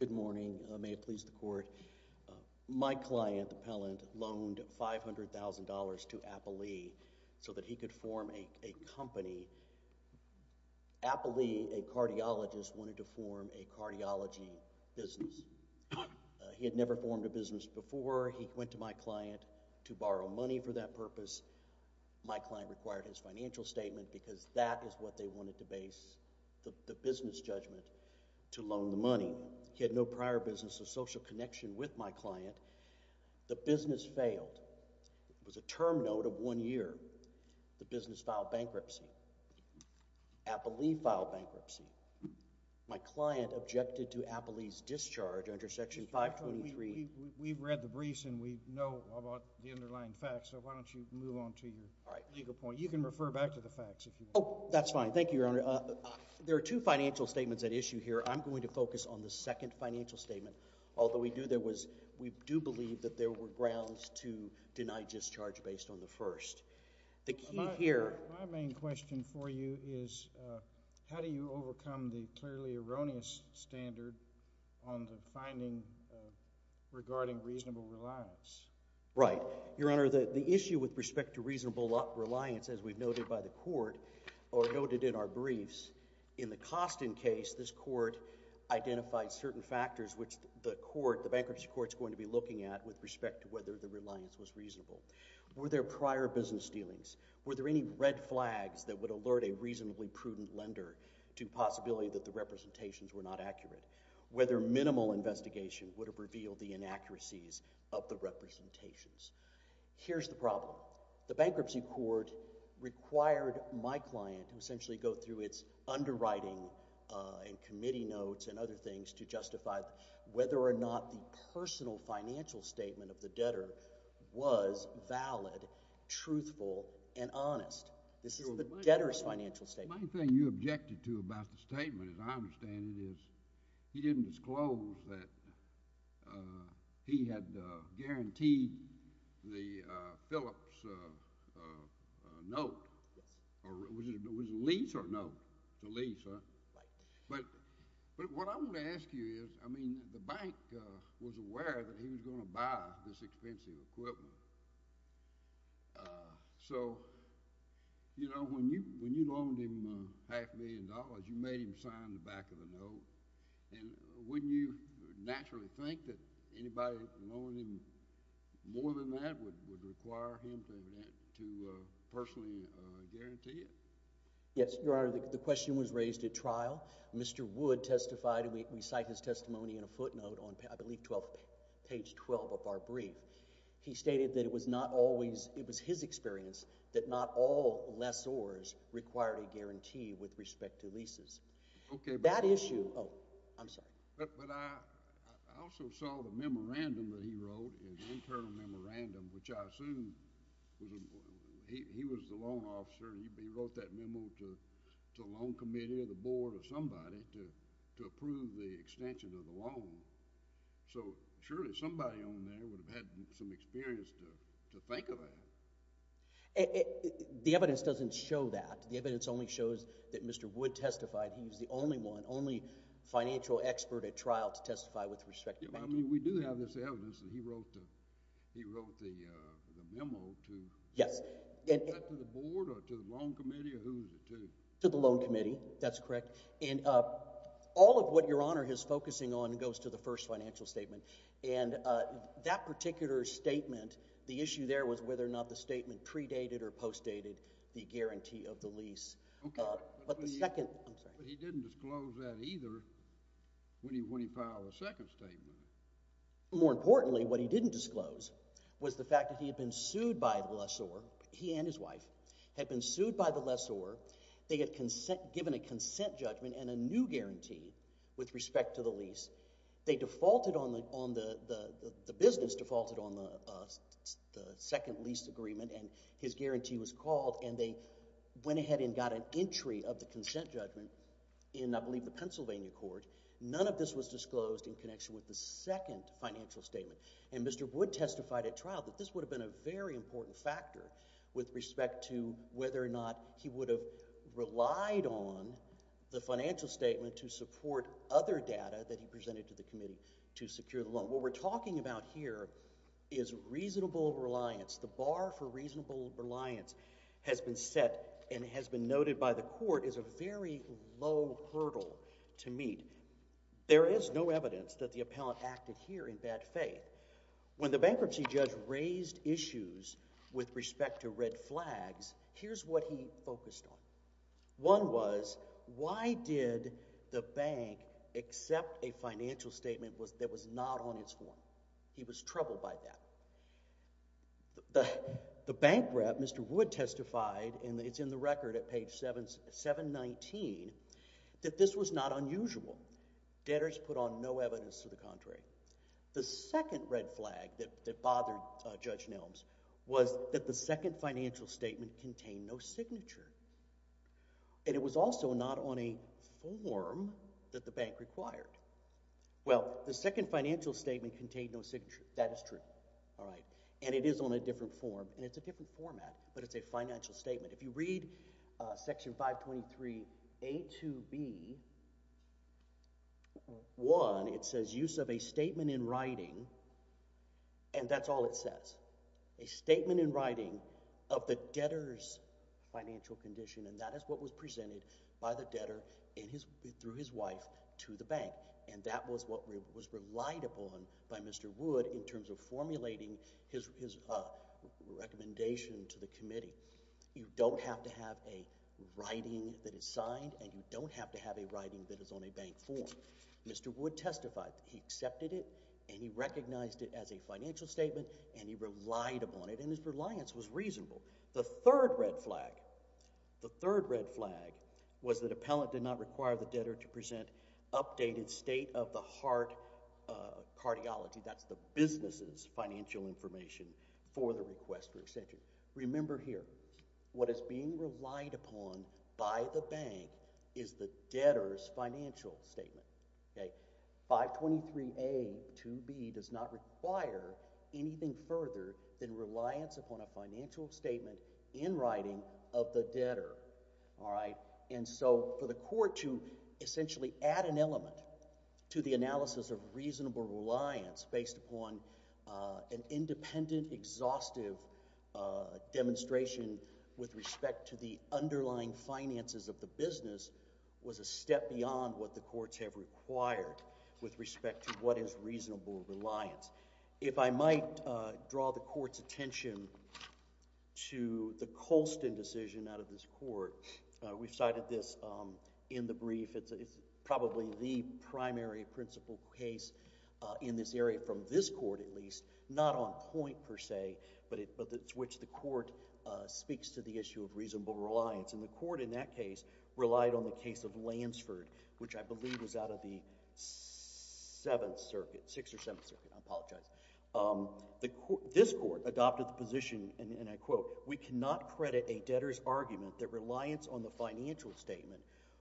Good morning, may it please the court. My client, the appellant, loaned $500,000 to Appalee so that he could form a company. Appalee, a cardiologist, wanted to form a cardiology business. He had never formed a business before. He went to my client to borrow money for that purpose. My client required his financial statement because that is what they wanted to base the business judgment to loan the money. He had no prior business or social connection with my client. The business failed. It was a term note of one year. The business filed bankruptcy. Appalee filed bankruptcy. My client objected to Appalee's discharge under Section 523. We've read the briefs and we know about the underlying facts, so why don't you move on to your legal point. You can refer back to the facts if you want. Oh, that's fine. Thank you, Your Honor. There are two financial statements at issue here. I'm going to focus on the second financial statement, although we do believe that there were grounds to deny discharge based on the first. The key here— My main question for you is how do you overcome the clearly erroneous standard on the finding regarding reasonable reliance? Right. Your Honor, the issue with respect to reasonable reliance, as we've noted by the Court or the cost in case, this Court identified certain factors which the Bankruptcy Court is going to be looking at with respect to whether the reliance was reasonable. Were there prior business dealings? Were there any red flags that would alert a reasonably prudent lender to the possibility that the representations were not accurate? Whether minimal investigation would have revealed the inaccuracies of the representations? Here's the problem. The Bankruptcy Court required my client to essentially go through its underwriting and committee notes and other things to justify whether or not the personal financial statement of the debtor was valid, truthful, and honest. This is the debtor's financial statement. The main thing you objected to about the statement, as I understand it, is he didn't disclose that he had guaranteed the Phillips note. Yes. Was it a lease or a note? It's a lease, huh? Right. But what I want to ask you is, I mean, the Bank was aware that he was going to buy this expensive equipment. So, you know, when you loaned him half a million dollars, you made him sign the back of the I would. I would. I would. I would. I would. I would. I would. I would. I would. I would. Okay. So you would naturally think that anybody loaned him more than that would require him to personally guarantee it? Yes, Your Honor, the question was raised at trial. Mr. Wood testified, and we cite his testimony in a footnote I believe on page 12 of our brief. He stated that it was his experience that not all lessors required a guarantee with respect to leases. Okay. That issue. Oh, I'm sorry. But I also saw the memorandum that he wrote, his internal memorandum, which I assume he was the loan officer, and he wrote that memo to a loan committee or the board or somebody to approve the extension of the loan. So surely somebody on there would have had some experience to think of that. The evidence doesn't show that. The evidence only shows that Mr. Wood testified. He was the only one, only financial expert at trial to testify with respect to banking. I mean, we do have this evidence that he wrote the memo to the board or to the loan committee or who is it to? To the loan committee. That's correct. And all of what Your Honor is focusing on goes to the first financial statement. And that particular statement, the issue there was whether or not the statement predated or postdated the guarantee of the lease. Okay. But he didn't disclose that either when he filed the second statement. More importantly, what he didn't disclose was the fact that he had been sued by the lessor, he and his wife, had been sued by the lessor, they had given a consent judgment and a new guarantee with respect to the lease. They defaulted on the business, defaulted on the second lease agreement, and his guarantee was called and they went ahead and got an entry of the consent judgment in, I believe, the Pennsylvania court. None of this was disclosed in connection with the second financial statement. And Mr. Wood testified at trial that this would have been a very important factor with respect to whether or not he would have relied on the financial statement to support other What we're talking about here is reasonable reliance. The bar for reasonable reliance has been set and has been noted by the court as a very low hurdle to meet. There is no evidence that the appellant acted here in bad faith. When the bankruptcy judge raised issues with respect to red flags, here's what he focused on. One was, why did the bank accept a financial statement that was not on its form? He was troubled by that. The bank rep, Mr. Wood testified, and it's in the record at page 719, that this was not unusual. Debtors put on no evidence to the contrary. The second red flag that bothered Judge Nelms was that the second financial statement contained no signature, and it was also not on a form that the bank required. Well, the second financial statement contained no signature. That is true. All right. And it is on a different form, and it's a different format, but it's a financial statement. If you read section 523a to b, one, it says use of a statement in writing, and that's all it says. A statement in writing of the debtor's financial condition, and that is what was presented by the debtor through his wife to the bank, and that was what was relied upon by Mr. Wood in terms of formulating his recommendation to the committee. You don't have to have a writing that is signed, and you don't have to have a writing that is on a bank form. Mr. Wood testified. He accepted it, and he recognized it as a financial statement, and he relied upon it, and his reliance was reasonable. The third red flag, the third red flag was that appellant did not require the debtor to present updated state-of-the-heart cardiology, that's the business's financial information for the request for extension. Remember here, what is being relied upon by the bank is the debtor's financial statement. 523a to b does not require anything further than reliance upon a financial statement in writing of the debtor. And so for the court to essentially add an element to the analysis of reasonable reliance based upon an independent, exhaustive demonstration with respect to the underlying finances of the business was a step beyond what the courts have required with respect to what is reasonable reliance. If I might draw the court's attention to the Colston decision out of this court, we cited this in the brief, it's probably the primary principle case in this area from this court at least, not on point per se, but it's which the court speaks to the issue of reasonable reliance. And the court in that case relied on the case of Lansford, which I believe was out of the Seventh Circuit, Sixth or Seventh Circuit, I apologize. This court adopted the position, and I quote, we cannot credit a debtor's argument that reliance on the financial statement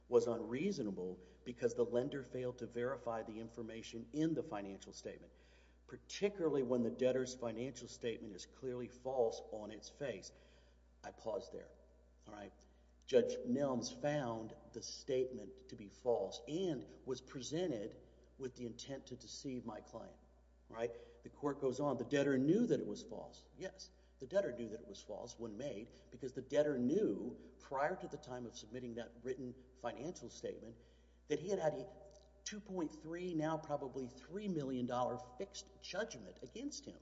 was unreasonable because the lender failed to verify the information in the financial statement, particularly when the debtor's financial statement is clearly false on its face. I pause there, all right? Judge Nelms found the statement to be false and was presented with the intent to deceive my client, right? The court goes on. The debtor knew that it was false, yes. The debtor knew that it was false when made because the debtor knew, prior to the time of submitting that written financial statement, that he had had a $2.3, now probably $3 million, fixed judgment against him,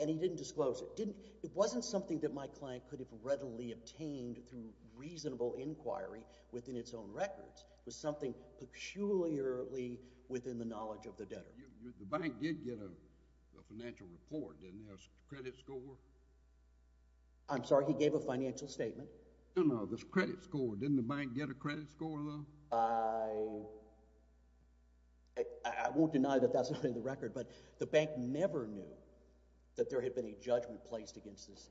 and he didn't disclose it. It wasn't something that my client could have readily obtained through reasonable inquiry within its own records. It was something peculiarly within the knowledge of the debtor. The bank did get a financial report, didn't it, a credit score? I'm sorry, he gave a financial statement? No, no, the credit score. Didn't the bank get a credit score, though? I won't deny that that's not in the record, but the bank never knew that there had been a judgment placed against this,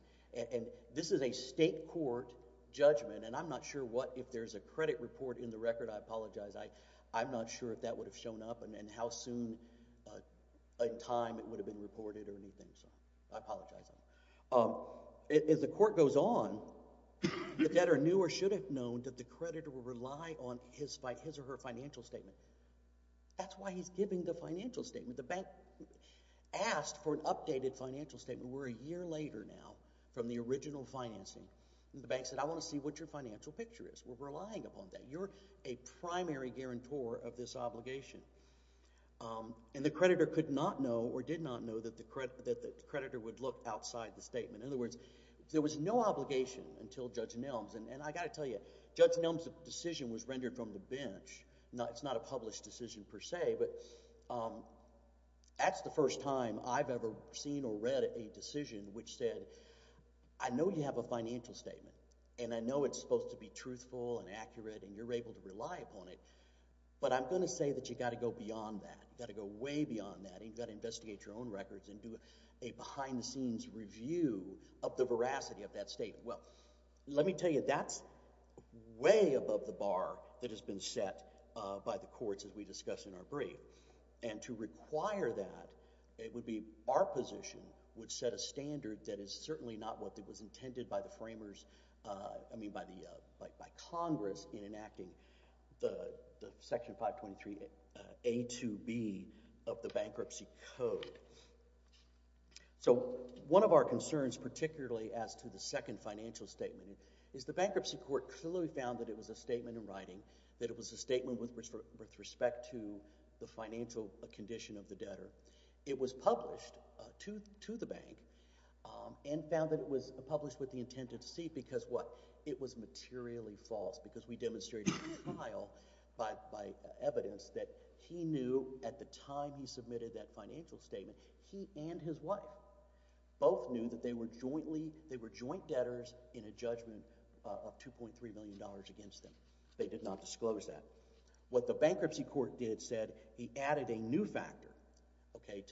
and this is a state court judgment, and I'm not sure what, if there's a credit report in the record, I apologize. I'm not sure if that would have shown up and how soon in time it would have been reported or anything, so I apologize on that. As the court goes on, the debtor knew or should have known that the creditor would rely on his or her financial statement. That's why he's giving the financial statement. The bank asked for an updated financial statement. We're a year later now from the original financing, and the bank said, I want to see what your financial picture is. We're relying upon that. You're a primary guarantor of this obligation, and the creditor could not know or did not know that the creditor would look outside the statement. In other words, there was no obligation until Judge Nelms, and I've got to tell you, Judge Nelms's decision was rendered from the bench. It's not a published decision per se, but that's the first time I've ever seen or read a decision which said, I know you have a financial statement, and I know it's supposed to be upheld, and you're able to rely upon it, but I'm going to say that you've got to go beyond that. You've got to go way beyond that. You've got to investigate your own records and do a behind-the-scenes review of the veracity of that statement. Well, let me tell you, that's way above the bar that has been set by the courts, as we discussed in our brief, and to require that, it would be—our position would set a standard that is certainly not what was intended by the framers—I mean, by Congress in enacting the Section 523a to b of the Bankruptcy Code. So one of our concerns, particularly as to the second financial statement, is the Bankruptcy Court clearly found that it was a statement in writing, that it was a statement with respect to the financial condition of the debtor. It was published to the bank and found that it was published with the intent to deceive because what? It was materially false, because we demonstrated in the trial by evidence that he knew at the time he submitted that financial statement, he and his wife both knew that they were joint debtors in a judgment of $2.3 million against them. They did not disclose that. What the Bankruptcy Court did said, he added a new factor, okay,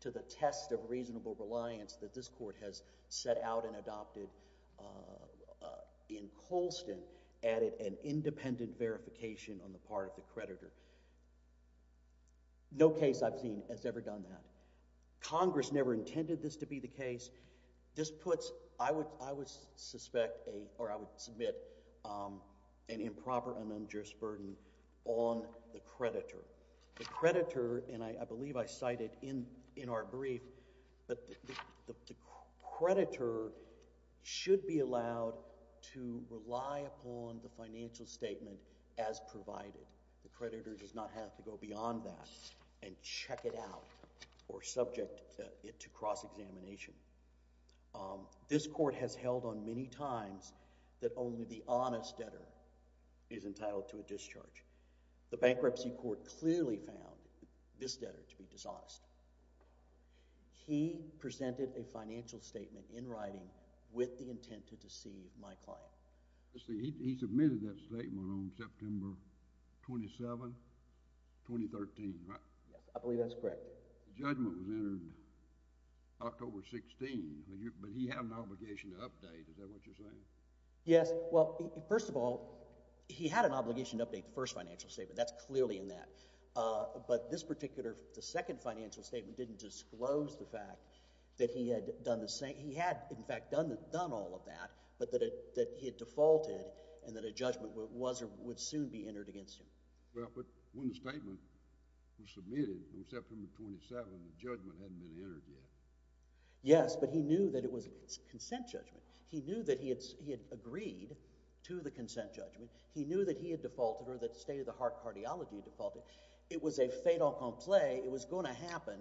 to the test of reasonable reliance that this Court has set out and adopted in Colston, added an independent verification on the part of the creditor. No case I've seen has ever done that. Congress never intended this to be the case. This puts, I would suspect, or I would submit, an improper and unjust burden on the creditor. The creditor, and I believe I cited in our brief, but the creditor should be allowed to rely upon the financial statement as provided. The creditor does not have to go beyond that and check it out or subject it to cross-examination. This Court has held on many times that only the honest debtor is entitled to a discharge. The Bankruptcy Court clearly found this debtor to be dishonest. He presented a financial statement in writing with the intent to deceive my client. He submitted that statement on September 27, 2013, right? I believe that's correct. The judgment was entered October 16, but he had an obligation to update. Is that what you're saying? Yes. Well, first of all, he had an obligation to update the first financial statement. That's clearly in that. But this particular, the second financial statement didn't disclose the fact that he had, in fact, done all of that, but that he had defaulted and that a judgment was or would soon be entered against him. Well, but when the statement was submitted on September 27, the judgment hadn't been entered yet. Yes, but he knew that it was a consent judgment. He knew that he had agreed to the consent judgment. He knew that he had defaulted or that state-of-the-art cardiology had defaulted. It was a fait accompli. It was going to happen,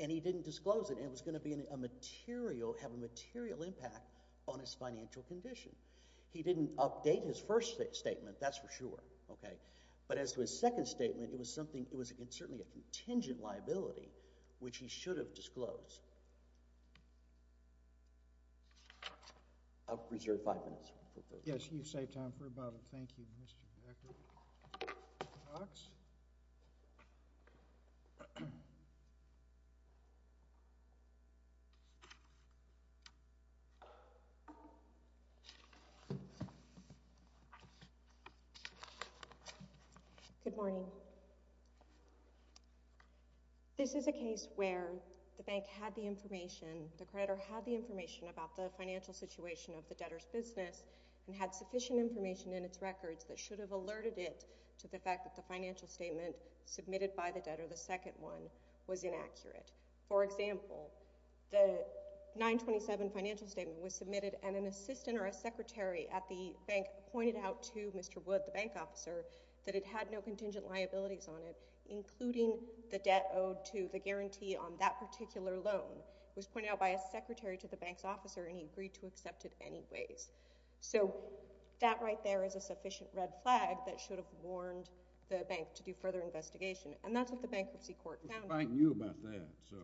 and he didn't disclose it. And it was going to be a material, have a material impact on his financial condition. He didn't update his first statement. That's for sure. Okay? But as to his second statement, it was something, it was certainly a contingent liability, which he should have disclosed. I'll reserve five minutes. Yes, you saved time for about a, thank you, Mr. Director. Docs? Okay. Good morning. This is a case where the bank had the information, the creditor had the information about the financial situation of the debtor's business and had sufficient information in its records that should have alerted it to the fact that the financial statement submitted by the debtor, the second one, was inaccurate. For example, the 927 financial statement was submitted, and an assistant or a secretary at the bank pointed out to Mr. Wood, the bank officer, that it had no contingent liabilities on it, including the debt owed to the guarantee on that particular loan. It was pointed out by a secretary to the bank's officer, and he agreed to accept it anyways. So that right there is a sufficient red flag that should have warned the bank to do further investigation. And that's what the bankruptcy court found. The bank knew about that, so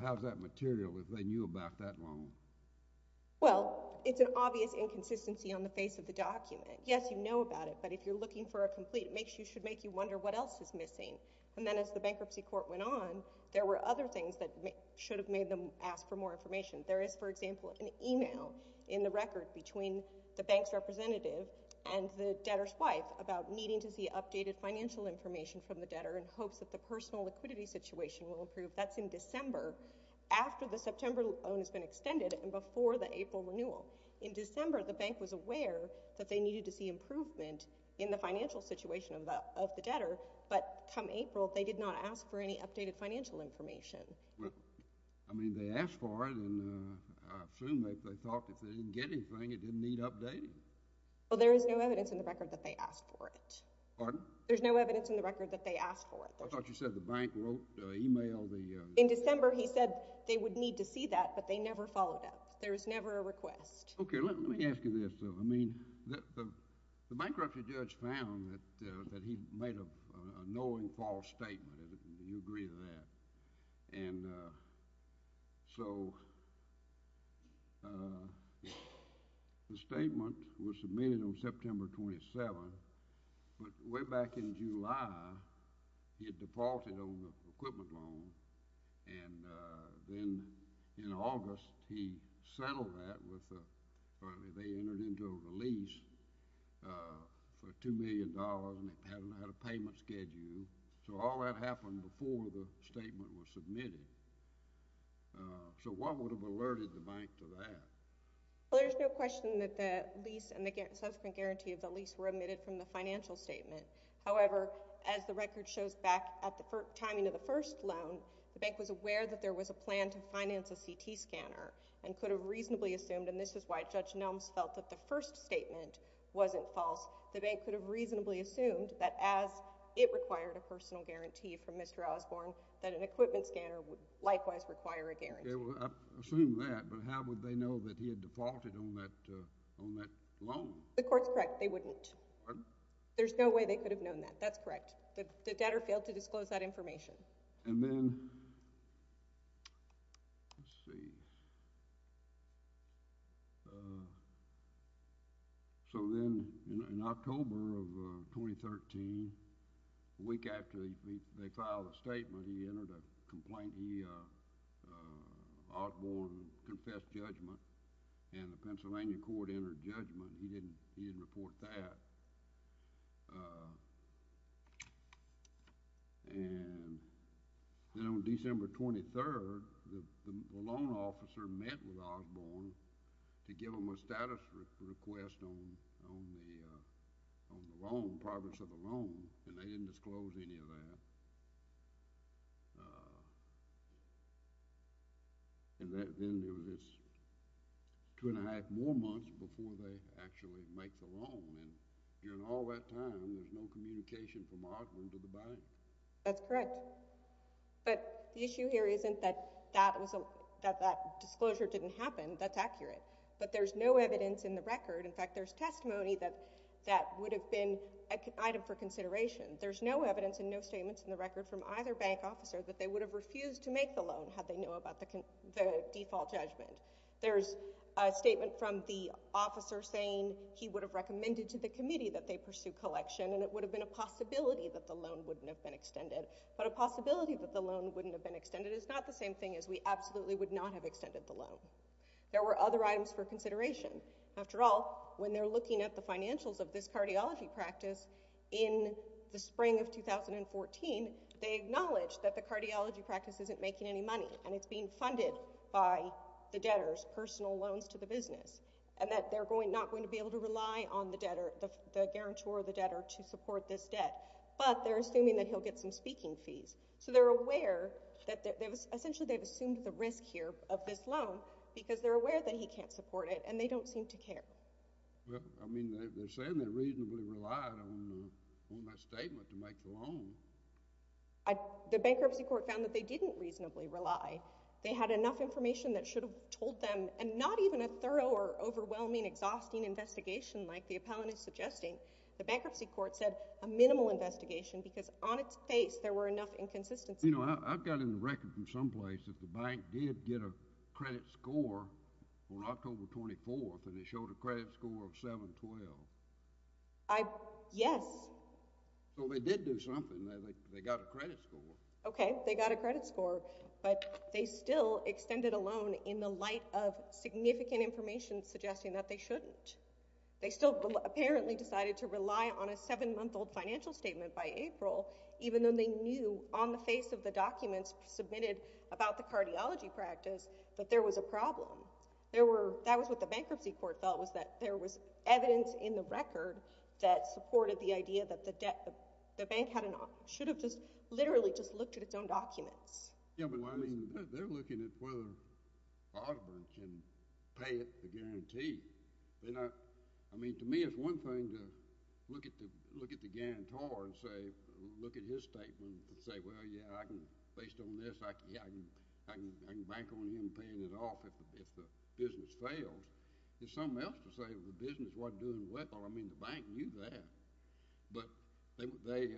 how's that material if they knew about that loan? Well, it's an obvious inconsistency on the face of the document. Yes, you know about it, but if you're looking for a complete, it should make you wonder what else is missing. And then as the bankruptcy court went on, there were other things that should have made them ask for more information. There is, for example, an email in the record between the bank's representative and the debtor's wife about needing to see updated financial information from the debtor in hopes that the personal liquidity situation will improve. That's in December, after the September loan has been extended and before the April renewal. In December, the bank was aware that they needed to see improvement in the financial situation of the debtor, but come April, they did not ask for any updated financial information. Well, I mean, they asked for it, and I assume they thought if they didn't get anything, it didn't need updating. Well, there is no evidence in the record that they asked for it. Pardon? There's no evidence in the record that they asked for it. I thought you said the bank wrote the email. In December, he said they would need to see that, but they never followed up. There was never a request. Okay, let me ask you this. I mean, the bankruptcy judge found that he made a knowing false statement. Do you agree with that? And so the statement was submitted on September 27, but way back in July, he had deported on the equipment loan, and then in August, he settled that with the — or they entered into a lease for $2 million, and it had a lot of payment schedule. So all that happened before the statement was submitted. So what would have alerted the bank to that? Well, there's no question that the lease and the subsequent guarantee of the lease were omitted from the financial statement. However, as the record shows back at the timing of the first loan, the bank was aware that there was a plan to finance a CT scanner and could have reasonably assumed, and this is why Judge Nelms felt that the first statement wasn't false, the bank could have reasonably assumed that as it required a personal guarantee from Mr. Osborne, that an equipment scanner would likewise require a guarantee. Well, I assume that, but how would they know that he had defaulted on that loan? The court's correct. They wouldn't. There's no way they could have known that. That's correct. The debtor failed to disclose that information. And then, let's see, so then in October of 2013, a week after they filed a statement, he entered a complaint. He, Osborne, confessed judgment, and the Pennsylvania court entered judgment. He didn't report that. And then on December 23rd, the loan officer met with Osborne to give him a status request on the loan, progress of the loan, and they didn't disclose any of that. And then there was this two and a half more months before they actually make the loan. And during all that time, there's no communication from Osborne to the bank. That's correct. But the issue here isn't that that disclosure didn't happen. That's accurate. But there's no evidence in the record. In fact, there's testimony that that would have been an item for consideration. There's no evidence and no statements in the record from either bank officer that they would have refused to make the loan had they known about the default judgment. There's a statement from the officer saying he would have recommended to the committee that they pursue collection, and it would have been a possibility that the loan wouldn't have been extended. But a possibility that the loan wouldn't have been extended is not the same thing as we absolutely would not have extended the loan. There were other items for consideration. After all, when they're looking at the financials of this cardiology practice in the spring of 2014, they acknowledge that the cardiology practice isn't making any money, and it's being funded by the debtors, personal loans to the business, and that they're not going to be able to rely on the guarantor or the debtor to support this debt. But they're assuming that he'll get some speaking fees. So they're aware that they've assumed the risk here of this loan because they're aware that he can't support it, and they don't seem to care. Well, I mean, they're saying they reasonably relied on that statement to make the loan. The bankruptcy court found that they didn't reasonably rely. They had enough information that should have told them, and not even a thorough or overwhelming, exhausting investigation like the appellant is suggesting. The bankruptcy court said a minimal investigation because on its face there were enough inconsistencies. You know, I've got in the record from someplace that the bank did get a credit score on October 24th, and it showed a credit score of 712. Yes. Well, they did do something. They got a credit score. Okay, they got a credit score, but they still extended a loan in the light of significant information suggesting that they shouldn't. They still apparently decided to rely on a 7-month-old financial statement by April, even though they knew on the face of the documents submitted about the cardiology practice that there was a problem. That was what the bankruptcy court felt was that there was evidence in the record that supported the idea that the bank should have just literally just looked at its own documents. Yes, but, I mean, they're looking at whether Audubon can pay it the guarantee. I mean, to me, it's one thing to look at the guarantor and say, look at his statement and say, well, yeah, based on this, I can bank on him paying it off if the business fails. There's something else to say that the business wasn't doing well. I mean, the bank knew that, but they,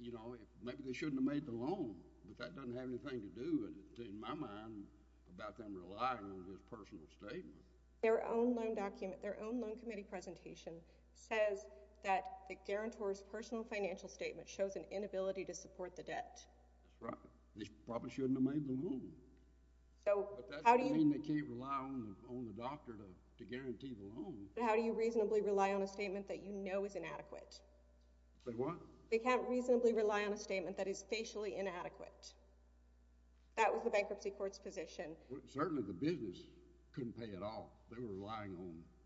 you know, maybe they shouldn't have made the loan, but that doesn't have anything to do, in my mind, about them relying on his personal statement. Their own loan document, their own loan committee presentation, says that the guarantor's personal financial statement shows an inability to support the debt. That's right. They probably shouldn't have made the loan. But that doesn't mean they can't rely on the doctor to guarantee the loan. How do you reasonably rely on a statement that you know is inadequate? Say what? They can't reasonably rely on a statement that is facially inadequate. That was the bankruptcy court's position. Certainly the business couldn't pay it off. They were relying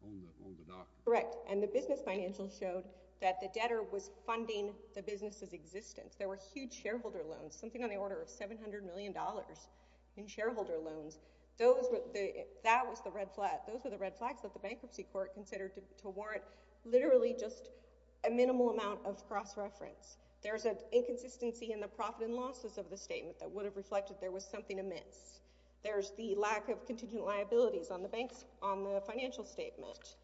on the doctor. Correct, and the business financial showed that the debtor was funding the business's existence. There were huge shareholder loans, something on the order of $700 million in shareholder loans. Those were the red flags that the bankruptcy court considered to warrant literally just a minimal amount of cross-reference. There's an inconsistency in the profit and losses of the statement that would have reflected there was something amiss. There's the lack of contingent liabilities on the financial statement.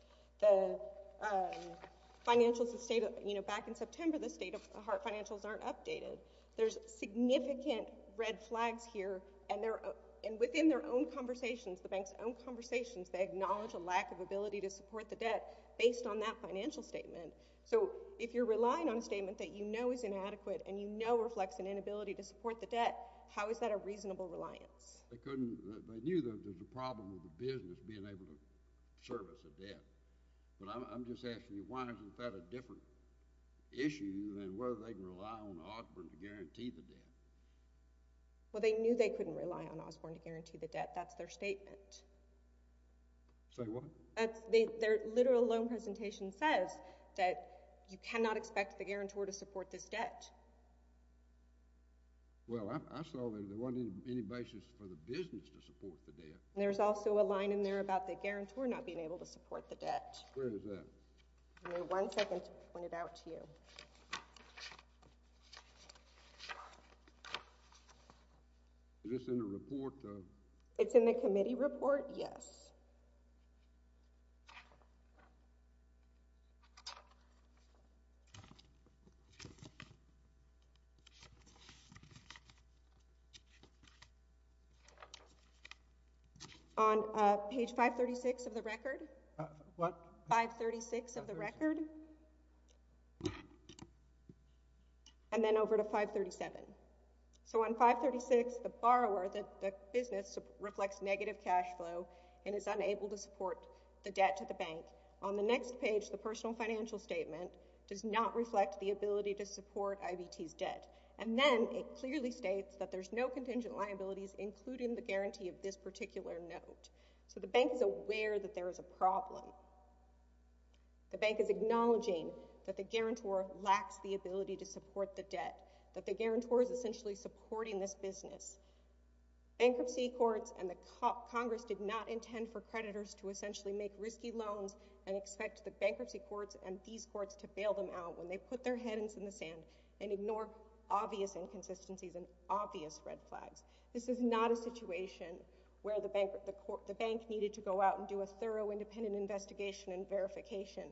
Back in September, the state-of-the-heart financials aren't updated. There's significant red flags here, and within their own conversations, the bank's own conversations, they acknowledge a lack of ability to support the debt based on that financial statement. So if you're relying on a statement that you know is inadequate and you know reflects an inability to support the debt, how is that a reasonable reliance? They knew there was a problem with the business being able to service the debt, but I'm just asking you, why is that a different issue than whether they can rely on Osborne to guarantee the debt? Well, they knew they couldn't rely on Osborne to guarantee the debt. That's their statement. Say what? Their literal loan presentation says that you cannot expect the guarantor to support this debt. Well, I saw that there wasn't any basis for the business to support the debt. There's also a line in there about the guarantor not being able to support the debt. Where is that? Give me one second to point it out to you. Is this in the report? It's in the committee report, yes. On page 536 of the record. What? 536 of the record, and then over to 537. So on 536, the borrower, the business, reflects negative cash flow and is unable to support the debt to the bank. On the next page, the personal financial statement does not reflect the ability to support IVT's debt. And then it clearly states that there's no contingent liabilities including the guarantee of this particular note. So the bank is aware that there is a problem. The bank is acknowledging that the guarantor lacks the ability to support the debt, that the guarantor is essentially supporting this business. Bankruptcy courts and the Congress did not intend for creditors to essentially make risky loans and expect the bankruptcy courts and these courts to bail them out when they put their heads in the sand and ignore obvious inconsistencies and obvious red flags. This is not a situation where the bank needed to go out and do a thorough independent investigation and verification.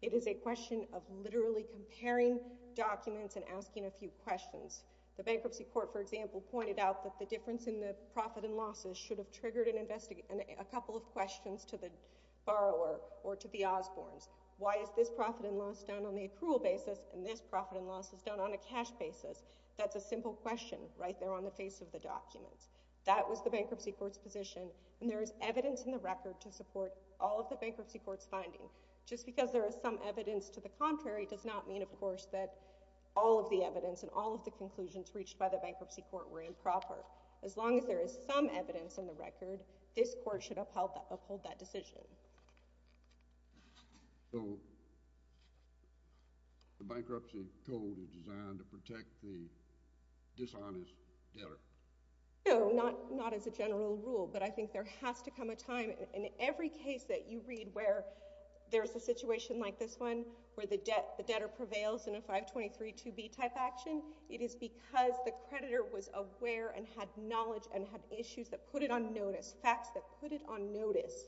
It is a question of literally comparing documents and asking a few questions. The bankruptcy court, for example, pointed out that the difference in the profit and losses should have triggered a couple of questions to the borrower or to the Osbournes. Why is this profit and loss done on the accrual basis and this profit and loss is done on a cash basis? That's a simple question right there on the face of the documents. That was the bankruptcy court's position and there is evidence in the record to support all of the bankruptcy court's finding. Just because there is some evidence to the contrary does not mean, of course, that all of the evidence and all of the conclusions reached by the bankruptcy court were improper. As long as there is some evidence in the record, this court should uphold that decision. So the bankruptcy code is designed to protect the dishonest debtor? No, not as a general rule, but I think there has to come a time. In every case that you read where there is a situation like this one where the debtor prevails in a 5232b type action, it is because the creditor was aware and had knowledge and had issues that put it on notice, facts that put it on notice,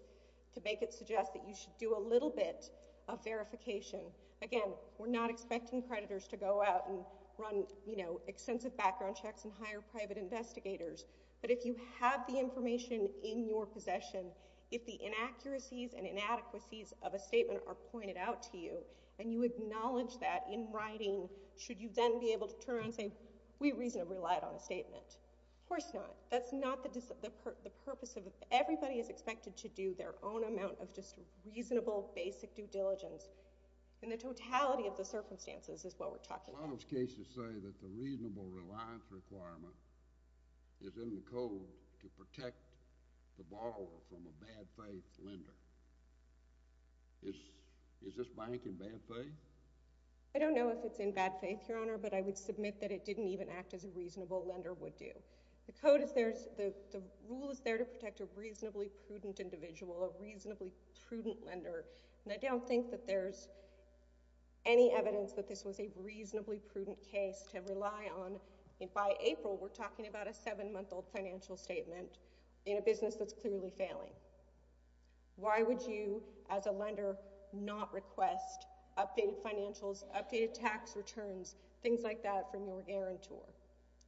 to make it suggest that you should do a little bit of verification. Again, we're not expecting creditors to go out and run extensive background checks and hire private investigators, but if you have the information in your possession, if the inaccuracies and inadequacies of a statement are pointed out to you and you acknowledge that in writing, should you then be able to turn around and say, we reasonably relied on a statement? Of course not. That's not the purpose of it. Everybody is expected to do their own amount of just reasonable, basic due diligence, and the totality of the circumstances is what we're talking about. A lot of cases say that the reasonable reliance requirement is in the code to protect the borrower from a bad faith lender. Is this bank in bad faith? I don't know if it's in bad faith, Your Honor, but I would submit that it didn't even act as a reasonable lender would do. The rule is there to protect a reasonably prudent individual, a reasonably prudent lender, and I don't think that there's any evidence that this was a reasonably prudent case to rely on. By April, we're talking about a 7-month-old financial statement in a business that's clearly failing. Why would you, as a lender, not request updated financials, updated tax returns, things like that from your guarantor?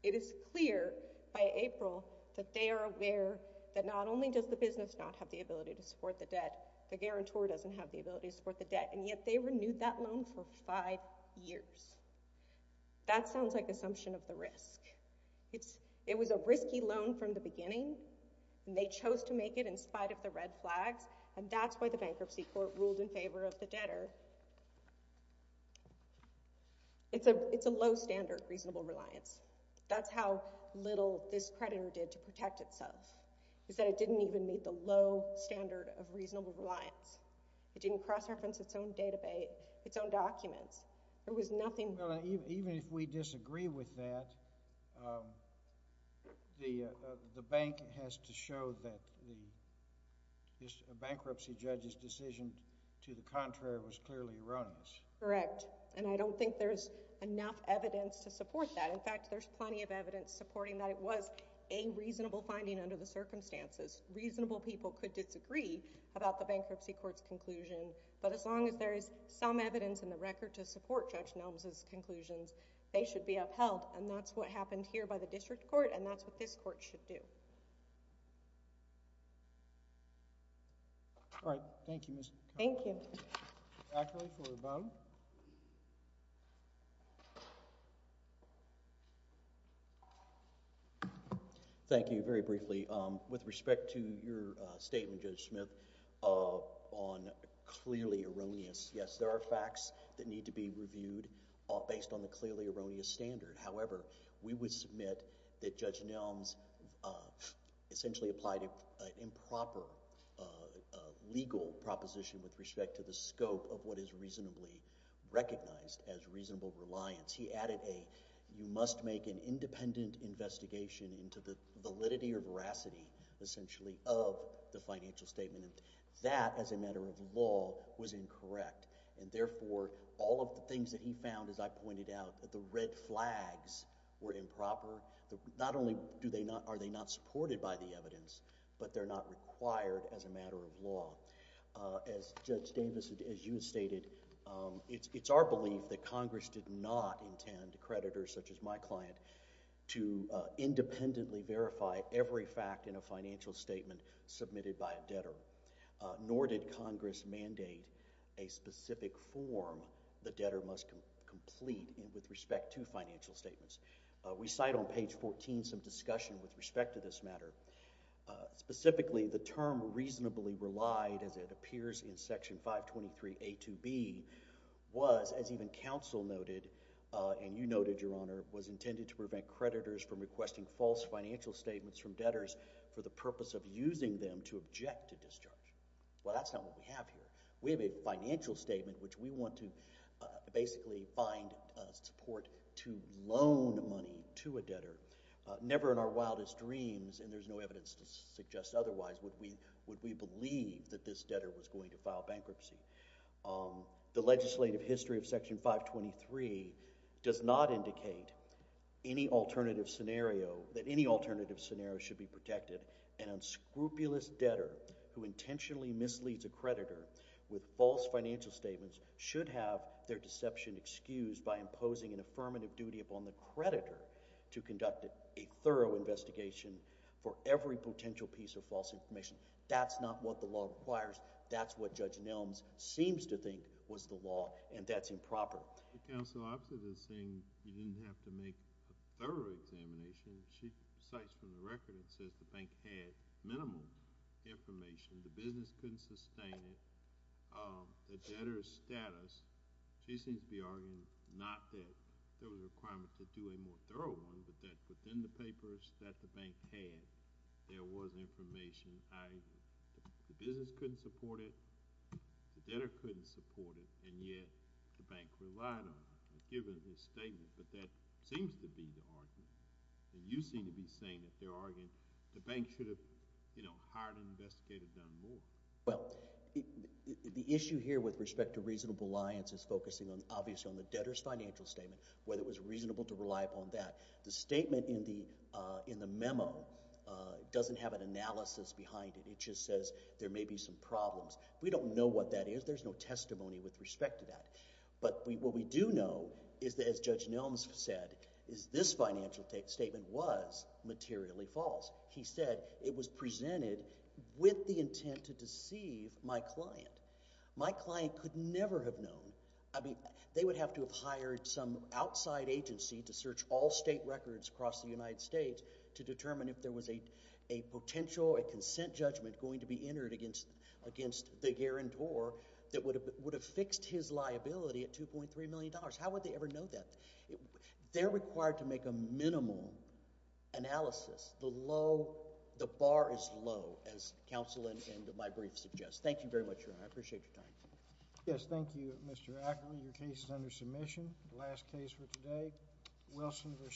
It is clear by April that they are aware that not only does the business not have the ability to support the debt, the guarantor doesn't have the ability to support the debt, and yet they renewed that loan for five years. That sounds like assumption of the risk. It was a risky loan from the beginning, and they chose to make it in spite of the red flags, and that's why the bankruptcy court ruled in favor of the debtor. It's a low-standard reasonable reliance. That's how little this creditor did to protect itself, is that it didn't even meet the low standard of reasonable reliance. It didn't cross-reference its own database, its own documents. There was nothing— Even if we disagree with that, the bank has to show that the bankruptcy judge's decision to the contrary was clearly erroneous. Correct, and I don't think there's enough evidence to support that. In fact, there's plenty of evidence supporting that it was a reasonable finding under the circumstances. Reasonable people could disagree about the bankruptcy court's conclusion, but as long as there is some evidence in the record to support Judge Nelms' conclusions, they should be upheld, and that's what happened here by the district court, and that's what this court should do. All right, thank you, Ms. Connell. Thank you. Zachary for the bottom. Thank you. Very briefly, with respect to your statement, Judge Smith, on clearly erroneous— Yes, there are facts that need to be reviewed based on the clearly erroneous standard. However, we would submit that Judge Nelms essentially applied an improper legal proposition with respect to the scope of what is reasonably recognized as reasonable reliance. He added, you must make an independent investigation into the validity or veracity, essentially, of the financial statement, and that, as a matter of law, was incorrect, and therefore, all of the things that he found, as I pointed out, the red flags were improper. Not only are they not supported by the evidence, but they're not required as a matter of law. As Judge Davis, as you stated, it's our belief that Congress did not intend creditors, such as my client, to independently verify every fact in a financial statement submitted by a debtor, nor did Congress mandate a specific form the debtor must complete with respect to financial statements. We cite on page 14 some discussion with respect to this matter. Specifically, the term reasonably relied, as it appears in section 523A2B, was, as even counsel noted, and you noted, Your Honor, was intended to prevent creditors from requesting false financial statements from debtors for the purpose of using them to object to discharge. Well, that's not what we have here. We have a financial statement, which we want to basically find support to loan money to a debtor. Never in our wildest dreams, and there's no evidence to suggest otherwise, would we believe that this debtor was going to file bankruptcy. The legislative history of section 523 does not indicate any alternative scenario, that any alternative scenario should be protected. An unscrupulous debtor who intentionally misleads a creditor with false financial statements should have their deception excused by imposing an affirmative duty upon the creditor to conduct a thorough investigation for every potential piece of false information. That's not what the law requires. That's what Judge Nelms seems to think was the law, and that's improper. Counsel, after this thing, you didn't have to make a thorough examination. She cites from the record, it says the bank had minimal information, the business couldn't sustain it, the debtor's status. She seems to be arguing not that there was a requirement to do a more thorough one, but that within the papers that the bank had, there was information. The business couldn't support it, the debtor couldn't support it, given this statement. But that seems to be the argument. And you seem to be saying that they're arguing the bank should have, you know, hired an investigator to have done more. Well, the issue here with respect to reasonable alliance is focusing, obviously, on the debtor's financial statement, whether it was reasonable to rely upon that. The statement in the memo doesn't have an analysis behind it. It just says there may be some problems. We don't know what that is. There's no testimony with respect to that. But what we do know is that, as Judge Nelms said, is this financial statement was materially false. He said it was presented with the intent to deceive my client. My client could never have known. I mean, they would have to have hired some outside agency to search all state records across the United States to determine if there was a potential, a consent judgment going to be entered against the guarantor that would have fixed his liability at $2.3 million. How would they ever know that? They're required to make a minimal analysis. The low, the bar is low, as counsel in my brief suggests. Thank you very much, Your Honor. I appreciate your time. Yes, thank you, Mr. Ackery. Your case is under submission. The last case for today, Wilson v. Ackery.